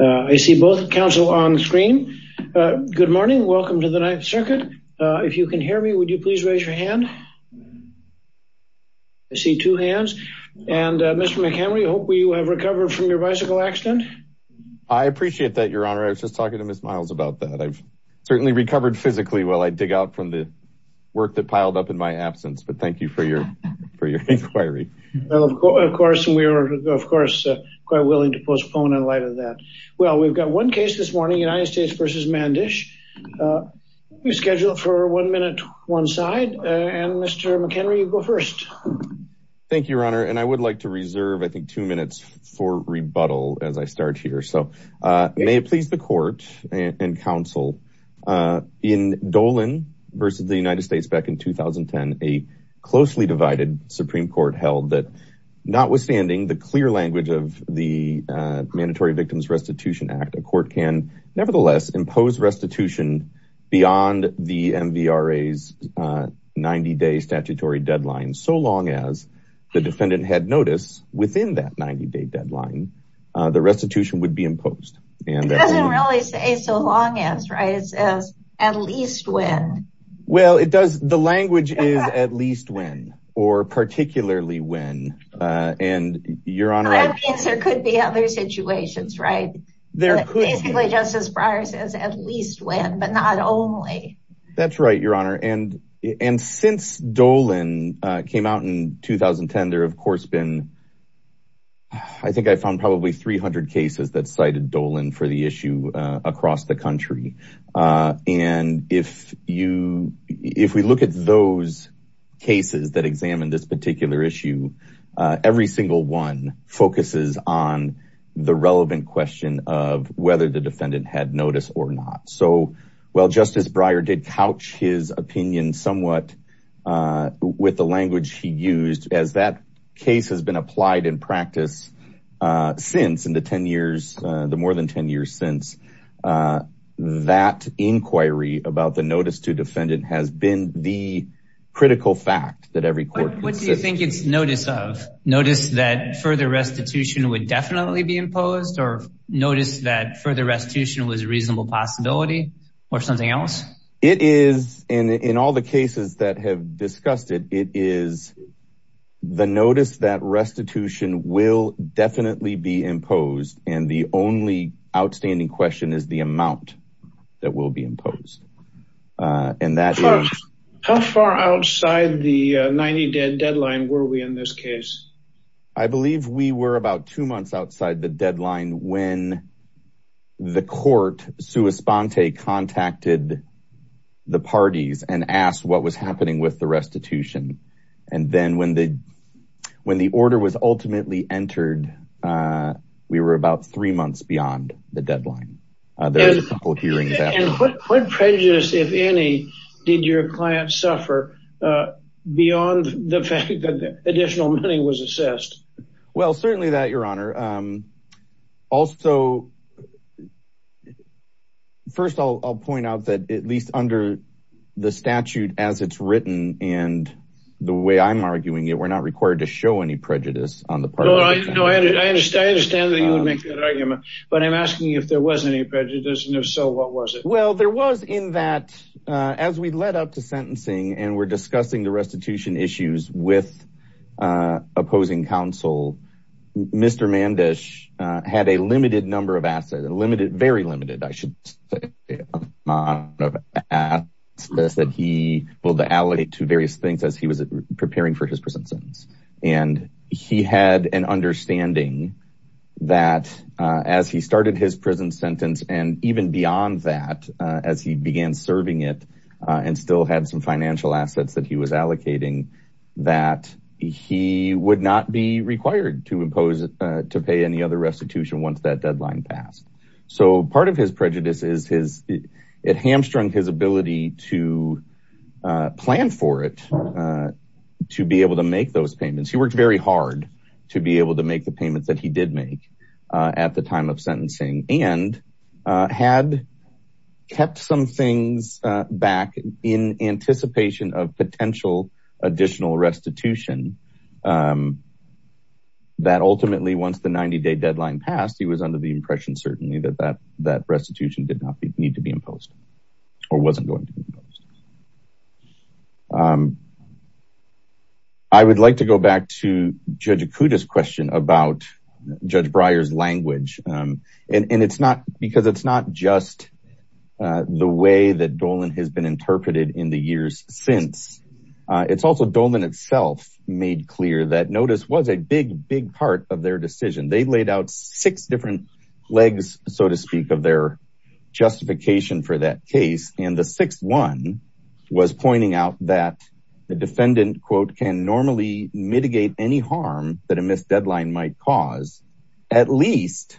I see both counsel on the screen. Good morning. Welcome to the Ninth Circuit. If you can hear me, would you please raise your hand? I see two hands. And Mr. McHenry, I hope you have recovered from your bicycle accident. I appreciate that, Your Honor. I was just talking to Ms. Miles about that. I've certainly recovered physically while I dig out from the work that piled up in my absence. But thank you for your inquiry. Well, of course, we are, of course, quite willing to postpone in light of that. Well, we've got one case this morning, United States v. Mandish. We scheduled for one minute, one side. And Mr. McHenry, you go first. Thank you, Your Honor. And I would like to reserve, I think, two minutes for rebuttal as I start here. So may it please the court and counsel. In Dolan v. The United States back in 2010, a closely divided Supreme Court held that notwithstanding the clear language of the Mandatory Victims Restitution Act, a court can nevertheless impose restitution beyond the MVRA's 90-day statutory deadline, so long as the defendant had notice within that 90-day deadline, the restitution would be imposed. It doesn't really say so long as, right? It says at least when. Well, it does. The language is at least when or particularly when. And Your Honor, there could be other situations, right? There could be, Justice Breyer says, at least when, but not only. That's right, Your Honor. And since Dolan came out in 2010, there have, of course, been, I think I found probably 300 cases that cited Dolan for the issue across the country. And if we look at those cases that examine this particular issue, every single one focuses on the relevant question of whether the defendant had notice or not. So, while Justice Breyer did couch his opinion somewhat with the language he used, as that case has been applied in practice since, in the 10 years, the more than 10 years since, that inquiry about the notice to defendant has been the critical fact that every court considers. I think it's notice of. Notice that further restitution would definitely be imposed or notice that further restitution was a reasonable possibility or something else? It is, and in all the cases that have discussed it, it is the notice that restitution will definitely be imposed. And the only outstanding question is the amount that will be imposed. How far outside the 90-day deadline were we in this case? I believe we were about two months outside the deadline when the court, sua sponte, contacted the parties and asked what was happening with the restitution. And then when the order was ultimately entered, we were about three months beyond the deadline. And what prejudice, if any, did your client suffer beyond the fact that additional money was assessed? Well, certainly that, Your Honor. Also, first of all, I'll point out that at least under the statute as it's written and the way I'm arguing it, we're not required to show any prejudice on the part of the defendant. I understand that you would make that argument, but I'm asking you if there was any prejudice. And if so, what was it? Well, there was in that as we led up to sentencing and we're discussing the restitution issues with opposing counsel, Mr. Mandish had a limited number of assets, a limited, very limited, I should say, amount of assets that he will allocate to various things as he was preparing for his present sentence. And he had an understanding that as he started his prison sentence and even beyond that, as he began serving it and still had some financial assets that he was allocating, that he would not be required to pay any other restitution once that deadline passed. So part of his prejudice is it hamstrung his ability to plan for it, to be able to make those payments. He worked very hard to be able to make the payments that he did make at the time of sentencing and had kept some things back in anticipation of potential additional restitution. That ultimately, once the 90-day deadline passed, he was under the impression, certainly, that restitution did not need to be imposed or wasn't going to be imposed. I would like to go back to Judge Okuda's question about Judge Breyer's language. And it's not because it's not just the way that Dolan has been interpreted in the years since. It's also Dolan itself made clear that notice was a big, big part of their decision. They laid out six different legs, so to speak, of their justification for that case. And the sixth one was pointing out that the defendant, quote, can normally mitigate any harm that a missed deadline might cause, at least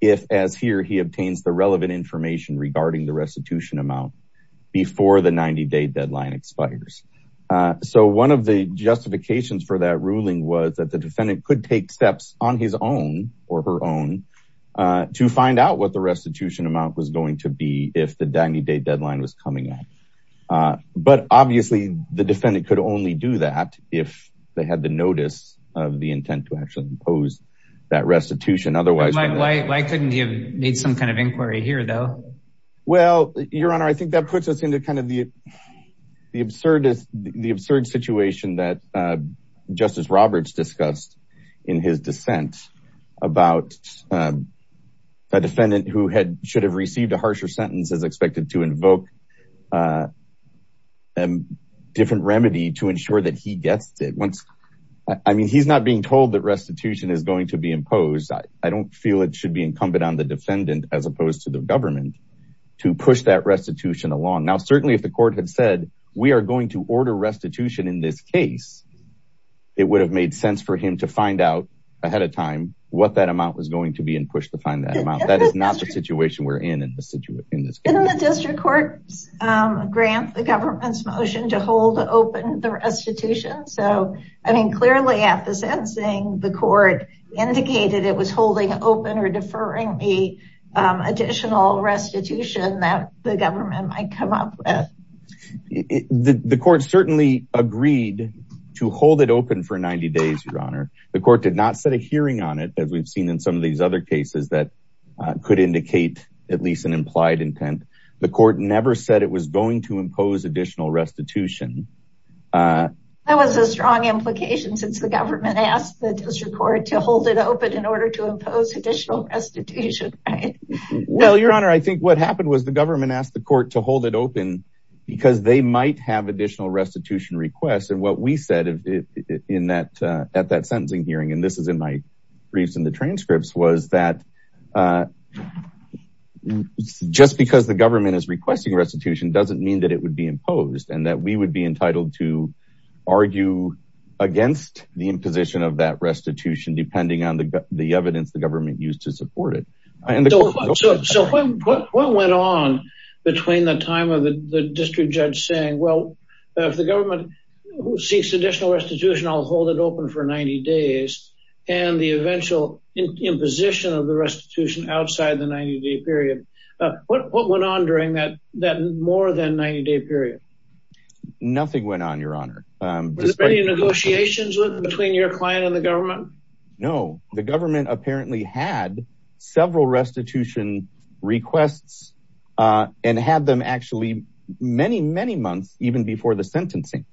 if, as here, he obtains the relevant information regarding the restitution amount before the 90-day deadline expires. So one of the justifications for that ruling was that the defendant could take steps on his own or her own to find out what the restitution amount was going to be if the 90-day deadline was coming up. But obviously, the defendant could only do that if they had the notice of the intent to actually impose that restitution. Why couldn't he have made some kind of inquiry here, though? Well, Your Honor, I think that puts us into kind of the absurd situation that Justice Roberts discussed in his dissent about a defendant who should have received a harsher sentence is expected to invoke a different remedy to ensure that he gets it. I mean, he's not being told that restitution is going to be imposed. I don't feel it should be incumbent on the defendant, as opposed to the government, to push that restitution along. Now, certainly, if the court had said, we are going to order restitution in this case, it would have made sense for him to find out ahead of time what that amount was going to be and push to find that amount. That is not the situation we're in in this case. Didn't the district court grant the government's motion to hold open the restitution? So, I mean, clearly at the sentencing, the court indicated it was holding open or deferring the additional restitution that the government might come up with. The court certainly agreed to hold it open for 90 days, Your Honor. The court did not set a hearing on it, as we've seen in some of these other cases that could indicate at least an implied intent. The court never said it was going to impose additional restitution. That was a strong implication since the government asked the district court to hold it open in order to impose additional restitution. Well, Your Honor, I think what happened was the government asked the court to hold it open because they might have additional restitution requests. And what we said at that sentencing hearing, and this is in my briefs and the transcripts, was that just because the government is requesting restitution doesn't mean that it would be imposed and that we would be entitled to argue against the imposition of that restitution depending on the evidence the government used to support it. So what went on between the time of the district judge saying, well, if the government seeks additional restitution, I'll hold it open for 90 days, and the eventual imposition of the restitution outside the 90-day period? What went on during that more than 90-day period? Nothing went on, Your Honor. Were there any negotiations between your client and the government? No, the government apparently had several restitution requests and had them actually many, many months even before the sentencing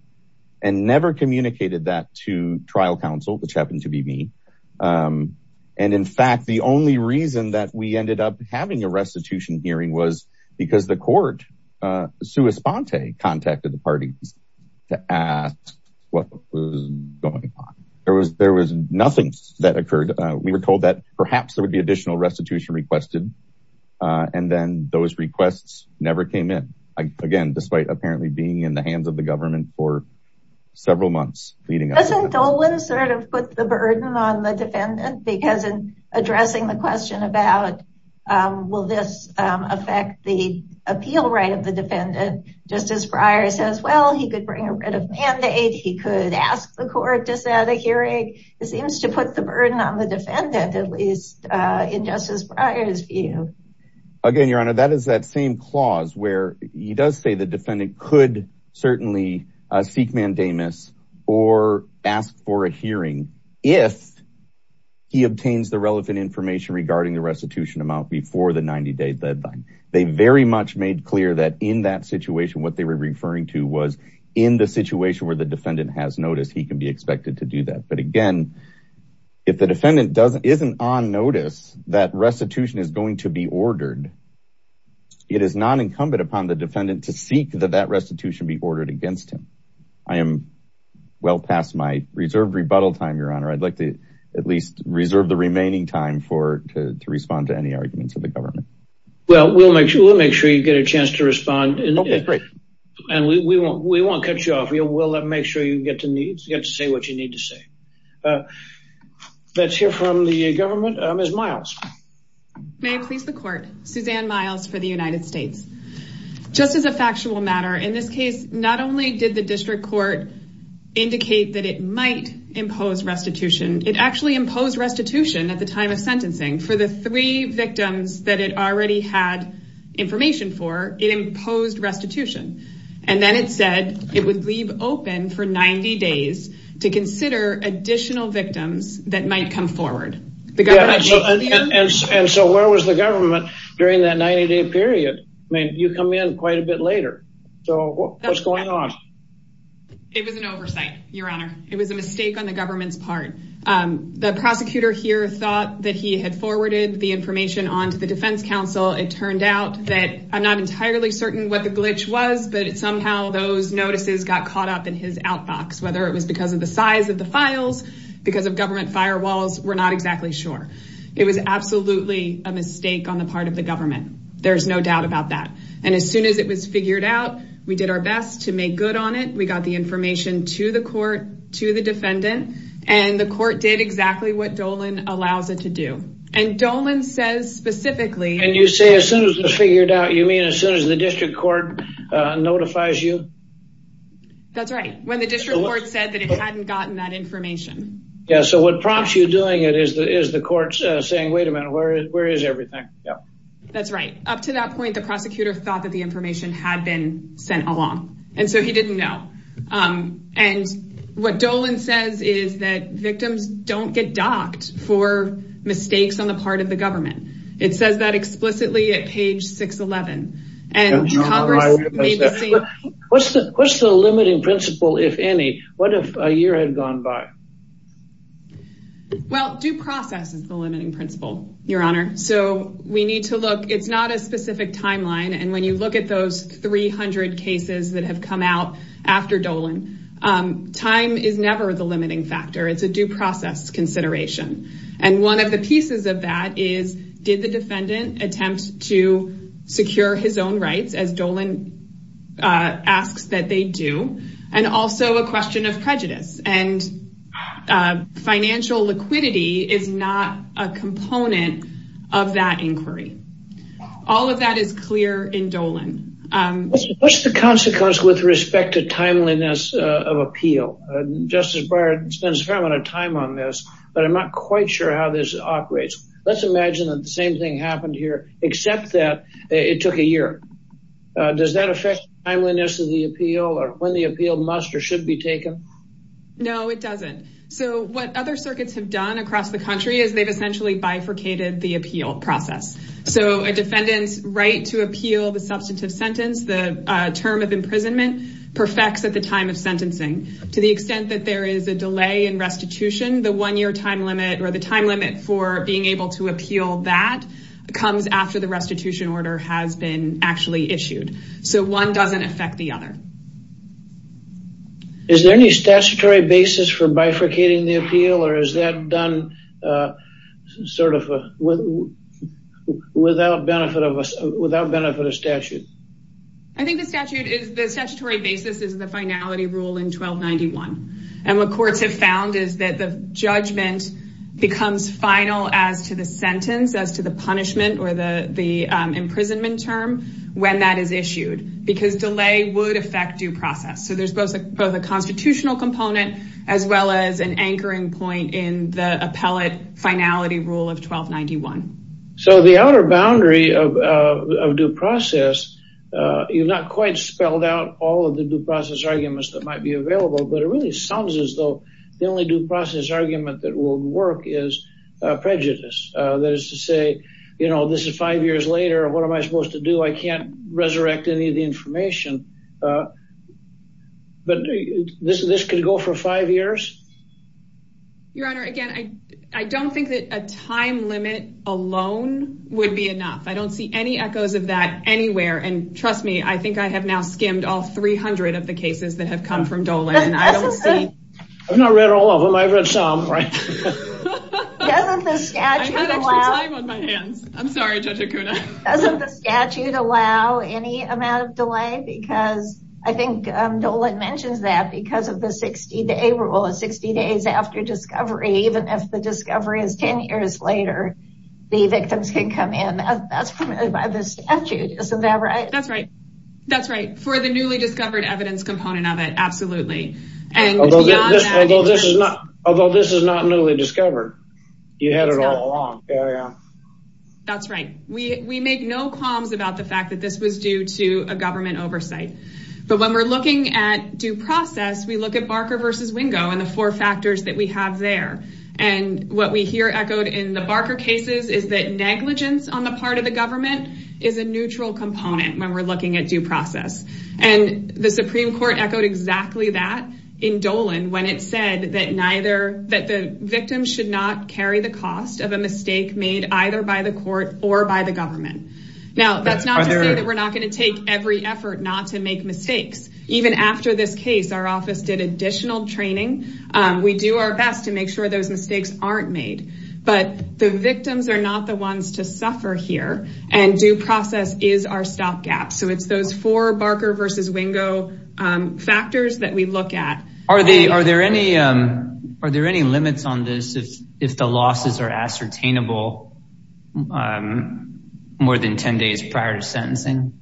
and never communicated that to trial counsel, which happened to be me. And in fact, the only reason that we ended up having a restitution hearing was because the court, sui sponte, contacted the parties to ask what was going on. There was nothing that occurred. We were told that perhaps there would be additional restitution requested, and then those requests never came in, again, despite apparently being in the hands of the government for several months leading up to that. Does this sort of put the burden on the defendant? Because in addressing the question about will this affect the appeal right of the defendant, Justice Breyer says, well, he could bring a writ of mandate, he could ask the court to set a hearing. It seems to put the burden on the defendant, at least in Justice Breyer's view. Again, Your Honor, that is that same clause where he does say the defendant could certainly seek mandamus or ask for a hearing if he obtains the relevant information regarding the restitution amount before the 90 day deadline. They very much made clear that in that situation, what they were referring to was in the situation where the defendant has noticed, he can be expected to do that. But again, if the defendant isn't on notice that restitution is going to be ordered, it is non-incumbent upon the defendant to seek that that restitution be ordered against him. I am well past my reserved rebuttal time, Your Honor. I'd like to at least reserve the remaining time to respond to any arguments of the government. Well, we'll make sure you get a chance to respond, and we won't cut you off. We'll make sure you get to say what you need to say. Let's hear from the government. Ms. Miles. May it please the court. Suzanne Miles for the United States. Just as a factual matter, in this case, not only did the district court indicate that it might impose restitution, it actually imposed restitution at the time of sentencing for the three victims that it already had information for. It imposed restitution. And then it said it would leave open for 90 days to consider additional victims that might come forward. And so where was the government during that 90-day period? I mean, you come in quite a bit later. So what's going on? It was an oversight, Your Honor. It was a mistake on the government's part. The prosecutor here thought that he had forwarded the information on to the defense counsel. It turned out that I'm not entirely certain what the glitch was, but somehow those notices got caught up in his outbox, whether it was because of the size of the files, because of government firewalls, we're not exactly sure. It was absolutely a mistake on the part of the government. There's no doubt about that. And as soon as it was figured out, we did our best to make good on it. We got the information to the court, to the defendant, and the court did exactly what Dolan allows it to do. And Dolan says specifically. And you say as soon as it was figured out, you mean as soon as the district court notifies you? That's right. When the district court said that it hadn't gotten that information. Yeah, so what prompts you doing it is the court saying, wait a minute, where is everything? That's right. Up to that point, the prosecutor thought that the information had been sent along, and so he didn't know. And what Dolan says is that victims don't get docked for mistakes on the part of the government. It says that explicitly at page 611. What's the limiting principle, if any? What if a year had gone by? Well, due process is the limiting principle, Your Honor. So we need to look, it's not a specific timeline. And when you look at those 300 cases that have come out after Dolan, time is never the limiting factor. It's a due process consideration. And one of the pieces of that is, did the defendant attempt to secure his own rights as Dolan asks that they do? And also a question of prejudice. And financial liquidity is not a component of that inquiry. All of that is clear in Dolan. What's the consequence with respect to timeliness of appeal? Justice Breyer spends a fair amount of time on this, but I'm not quite sure how this operates. Let's imagine that the same thing happened here, except that it took a year. Does that affect timeliness of the appeal or when the appeal must or should be taken? No, it doesn't. So what other circuits have done across the country is they've essentially bifurcated the appeal process. So a defendant's right to appeal the substantive sentence, the term of imprisonment, perfects at the time of sentencing. To the extent that there is a delay in restitution, the one-year time limit or the time limit for being able to appeal that comes after the restitution order has been actually issued. So one doesn't affect the other. Is there any statutory basis for bifurcating the appeal or is that done without benefit of statute? I think the statutory basis is the finality rule in 1291. And what courts have found is that the judgment becomes final as to the sentence, as to the punishment or the imprisonment term when that is issued. Because delay would affect due process. So there's both a constitutional component as well as an anchoring point in the appellate finality rule of 1291. So the outer boundary of due process, you've not quite spelled out all of the due process arguments that might be available. But it really sounds as though the only due process argument that will work is prejudice. That is to say, you know, this is five years later. What am I supposed to do? I can't resurrect any of the information. But this could go for five years? Your Honor, again, I don't think that a time limit alone would be enough. I don't see any echoes of that anywhere. And trust me, I think I have now skimmed all 300 of the cases that have come from Dolan. I've not read all of them. I've read some. Doesn't the statute allow any amount of delay? Because I think Dolan mentions that because of the 60 days after discovery, even if the discovery is 10 years later, the victims can come in. That's permitted by the statute. Isn't that right? That's right. That's right. For the newly discovered evidence component of it, absolutely. Although this is not newly discovered. You had it all along. Carry on. That's right. We make no qualms about the fact that this was due to a government oversight. But when we're looking at due process, we look at Barker v. Wingo and the four factors that we have there. And what we hear echoed in the Barker cases is that negligence on the part of the government is a neutral component when we're looking at due process. And the Supreme Court echoed exactly that in Dolan when it said that the victims should not carry the cost of a mistake made either by the court or by the government. Now, that's not to say that we're not going to take every effort not to make mistakes. Even after this case, our office did additional training. We do our best to make sure those mistakes aren't made. But the victims are not the ones to suffer here. And due process is our stopgap. So it's those four Barker v. Wingo factors that we look at. Are there any limits on this if the losses are ascertainable more than 10 days prior to sentencing?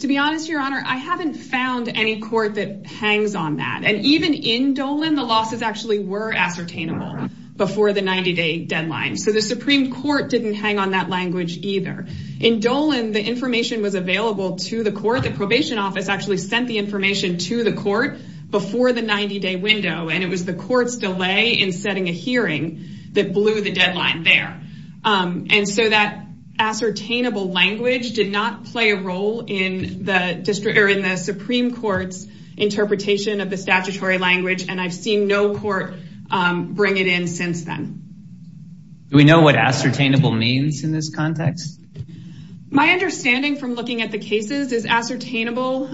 To be honest, Your Honor, I haven't found any court that hangs on that. And even in Dolan, the losses actually were ascertainable before the 90-day deadline. So the Supreme Court didn't hang on that language either. In Dolan, the information was available to the court. The probation office actually sent the information to the court before the 90-day window. And it was the court's delay in setting a hearing that blew the deadline there. And so that ascertainable language did not play a role in the Supreme Court's interpretation of the statutory language. And I've seen no court bring it in since then. Do we know what ascertainable means in this context? My understanding from looking at the cases is ascertainable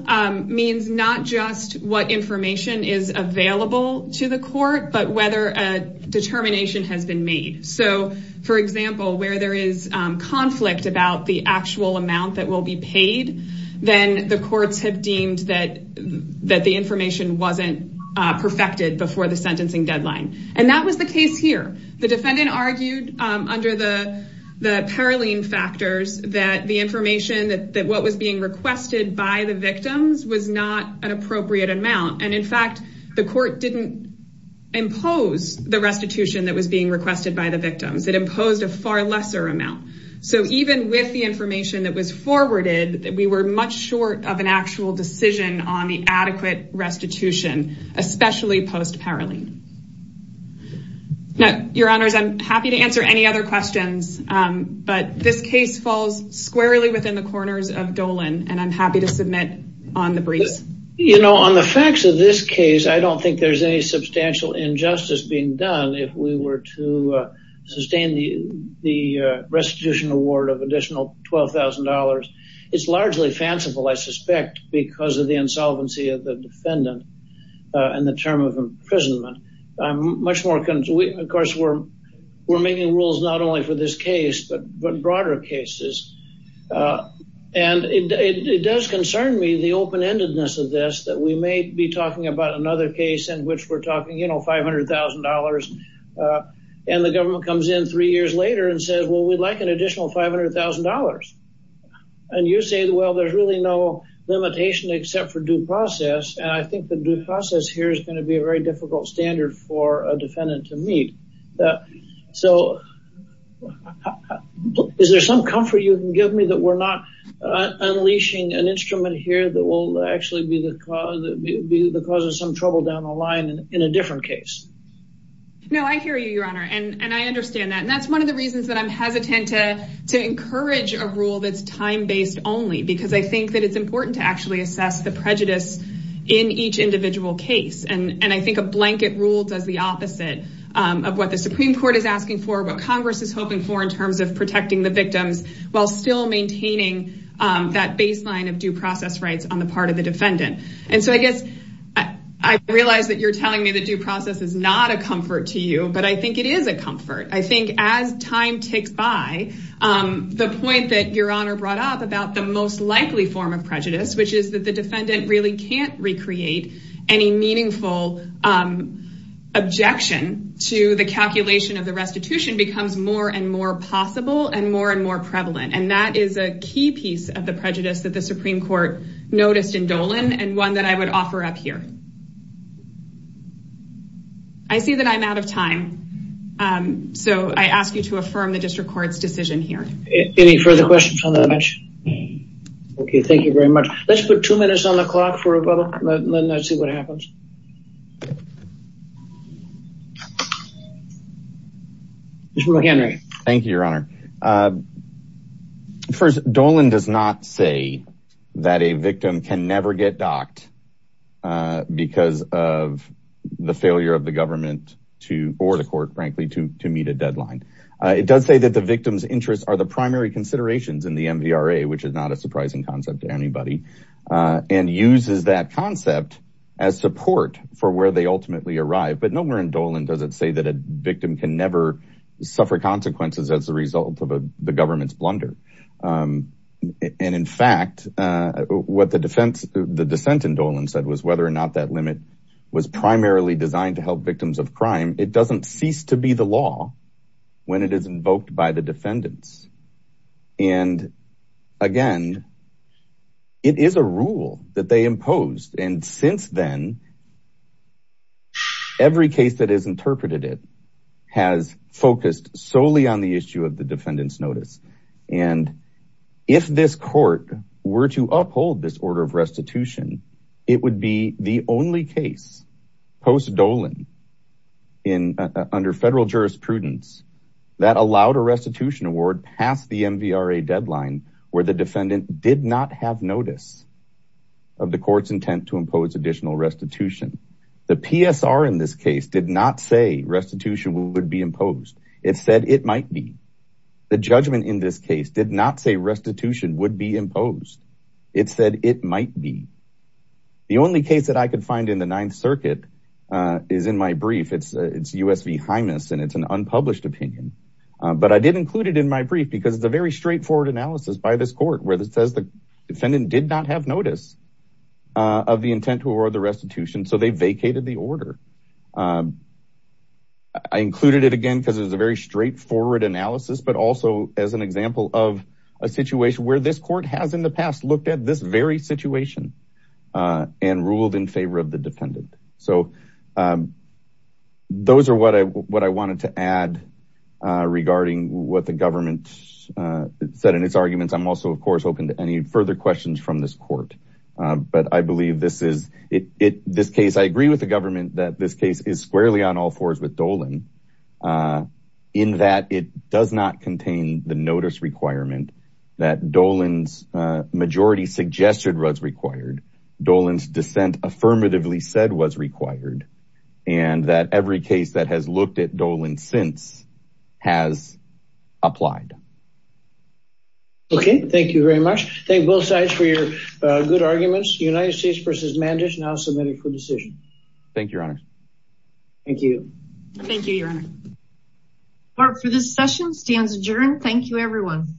means not just what information is available to the court, but whether a determination has been made. So, for example, where there is conflict about the actual amount that will be paid, then the courts have deemed that the information wasn't perfected before the sentencing deadline. And that was the case here. The defendant argued under the Paroline factors that the information that was being requested by the victims was not an appropriate amount. And in fact, the court didn't impose the restitution that was being requested by the victims. It imposed a far lesser amount. So even with the information that was forwarded, we were much short of an actual decision on the adequate restitution, especially post-Paroline. Now, Your Honors, I'm happy to answer any other questions, but this case falls squarely within the corners of Dolan, and I'm happy to submit on the briefs. You know, on the facts of this case, I don't think there's any substantial injustice being done. If we were to sustain the restitution award of additional $12,000, it's largely fanciful, I suspect, because of the insolvency of the defendant and the term of imprisonment. Of course, we're making rules not only for this case, but broader cases. And it does concern me, the open-endedness of this, that we may be talking about another case in which we're talking, you know, $500,000, and the government comes in three years later and says, well, we'd like an additional $500,000. And you say, well, there's really no limitation except for due process, and I think the due process here is going to be a very difficult standard for a defendant to meet. So is there some comfort you can give me that we're not unleashing an instrument here that will actually be the cause of some trouble down the line in a different case? No, I hear you, Your Honor, and I understand that. And that's one of the reasons that I'm hesitant to encourage a rule that's time-based only, because I think that it's important to actually assess the prejudice in each individual case. And I think a blanket rule does the opposite of what the Supreme Court is asking for, while still maintaining that baseline of due process rights on the part of the defendant. And so I guess I realize that you're telling me that due process is not a comfort to you, but I think it is a comfort. I think as time ticks by, the point that Your Honor brought up about the most likely form of prejudice, which is that the defendant really can't recreate any meaningful objection to the calculation of the restitution, becomes more and more possible and more and more prevalent. And that is a key piece of the prejudice that the Supreme Court noticed in Dolan, and one that I would offer up here. I see that I'm out of time, so I ask you to affirm the District Court's decision here. Any further questions on that? Okay, thank you very much. Let's put two minutes on the clock for a moment and then see what happens. Mr. McHenry. Thank you, Your Honor. First, Dolan does not say that a victim can never get docked because of the failure of the government or the court, frankly, to meet a deadline. It does say that the victim's interests are the primary considerations in the MVRA, which is not a surprising concept to anybody, and uses that concept as support for where they ultimately arrive. But nowhere in Dolan does it say that a victim can never suffer consequences as a result of the government's blunder. And, in fact, what the dissent in Dolan said was whether or not that limit was primarily designed to help victims of crime. It doesn't cease to be the law when it is invoked by the defendants. And, again, it is a rule that they imposed. And since then, every case that has interpreted it has focused solely on the issue of the defendant's notice. And if this court were to uphold this order of restitution, it would be the only case post-Dolan under federal jurisprudence that allowed a restitution award past the MVRA deadline where the defendant did not have notice of the court's intent to impose additional restitution. The PSR in this case did not say restitution would be imposed. It said it might be. The judgment in this case did not say restitution would be imposed. It said it might be. The only case that I could find in the Ninth Circuit is in my brief. It's U.S. v. Hymas, and it's an unpublished opinion. But I did include it in my brief because it's a very straightforward analysis by this court where it says the defendant did not have notice of the intent to award the restitution, so they vacated the order. I included it again because it was a very straightforward analysis, but also as an example of a situation where this court has in the past looked at this very situation and ruled in favor of the defendant. So those are what I wanted to add regarding what the government said in its arguments. I'm also, of course, open to any further questions from this court. But I believe this is this case. I agree with the government that this case is squarely on all fours with Dolan in that it does not contain the notice requirement that Dolan's majority suggested was required. Dolan's dissent affirmatively said was required and that every case that has looked at Dolan since has applied. Okay. Thank you very much. Thank both sides for your good arguments. United States v. Mandich now submitted for decision. Thank you, Your Honor. Thank you. Thank you, Your Honor. Court, for this session stands adjourned. Thank you, everyone.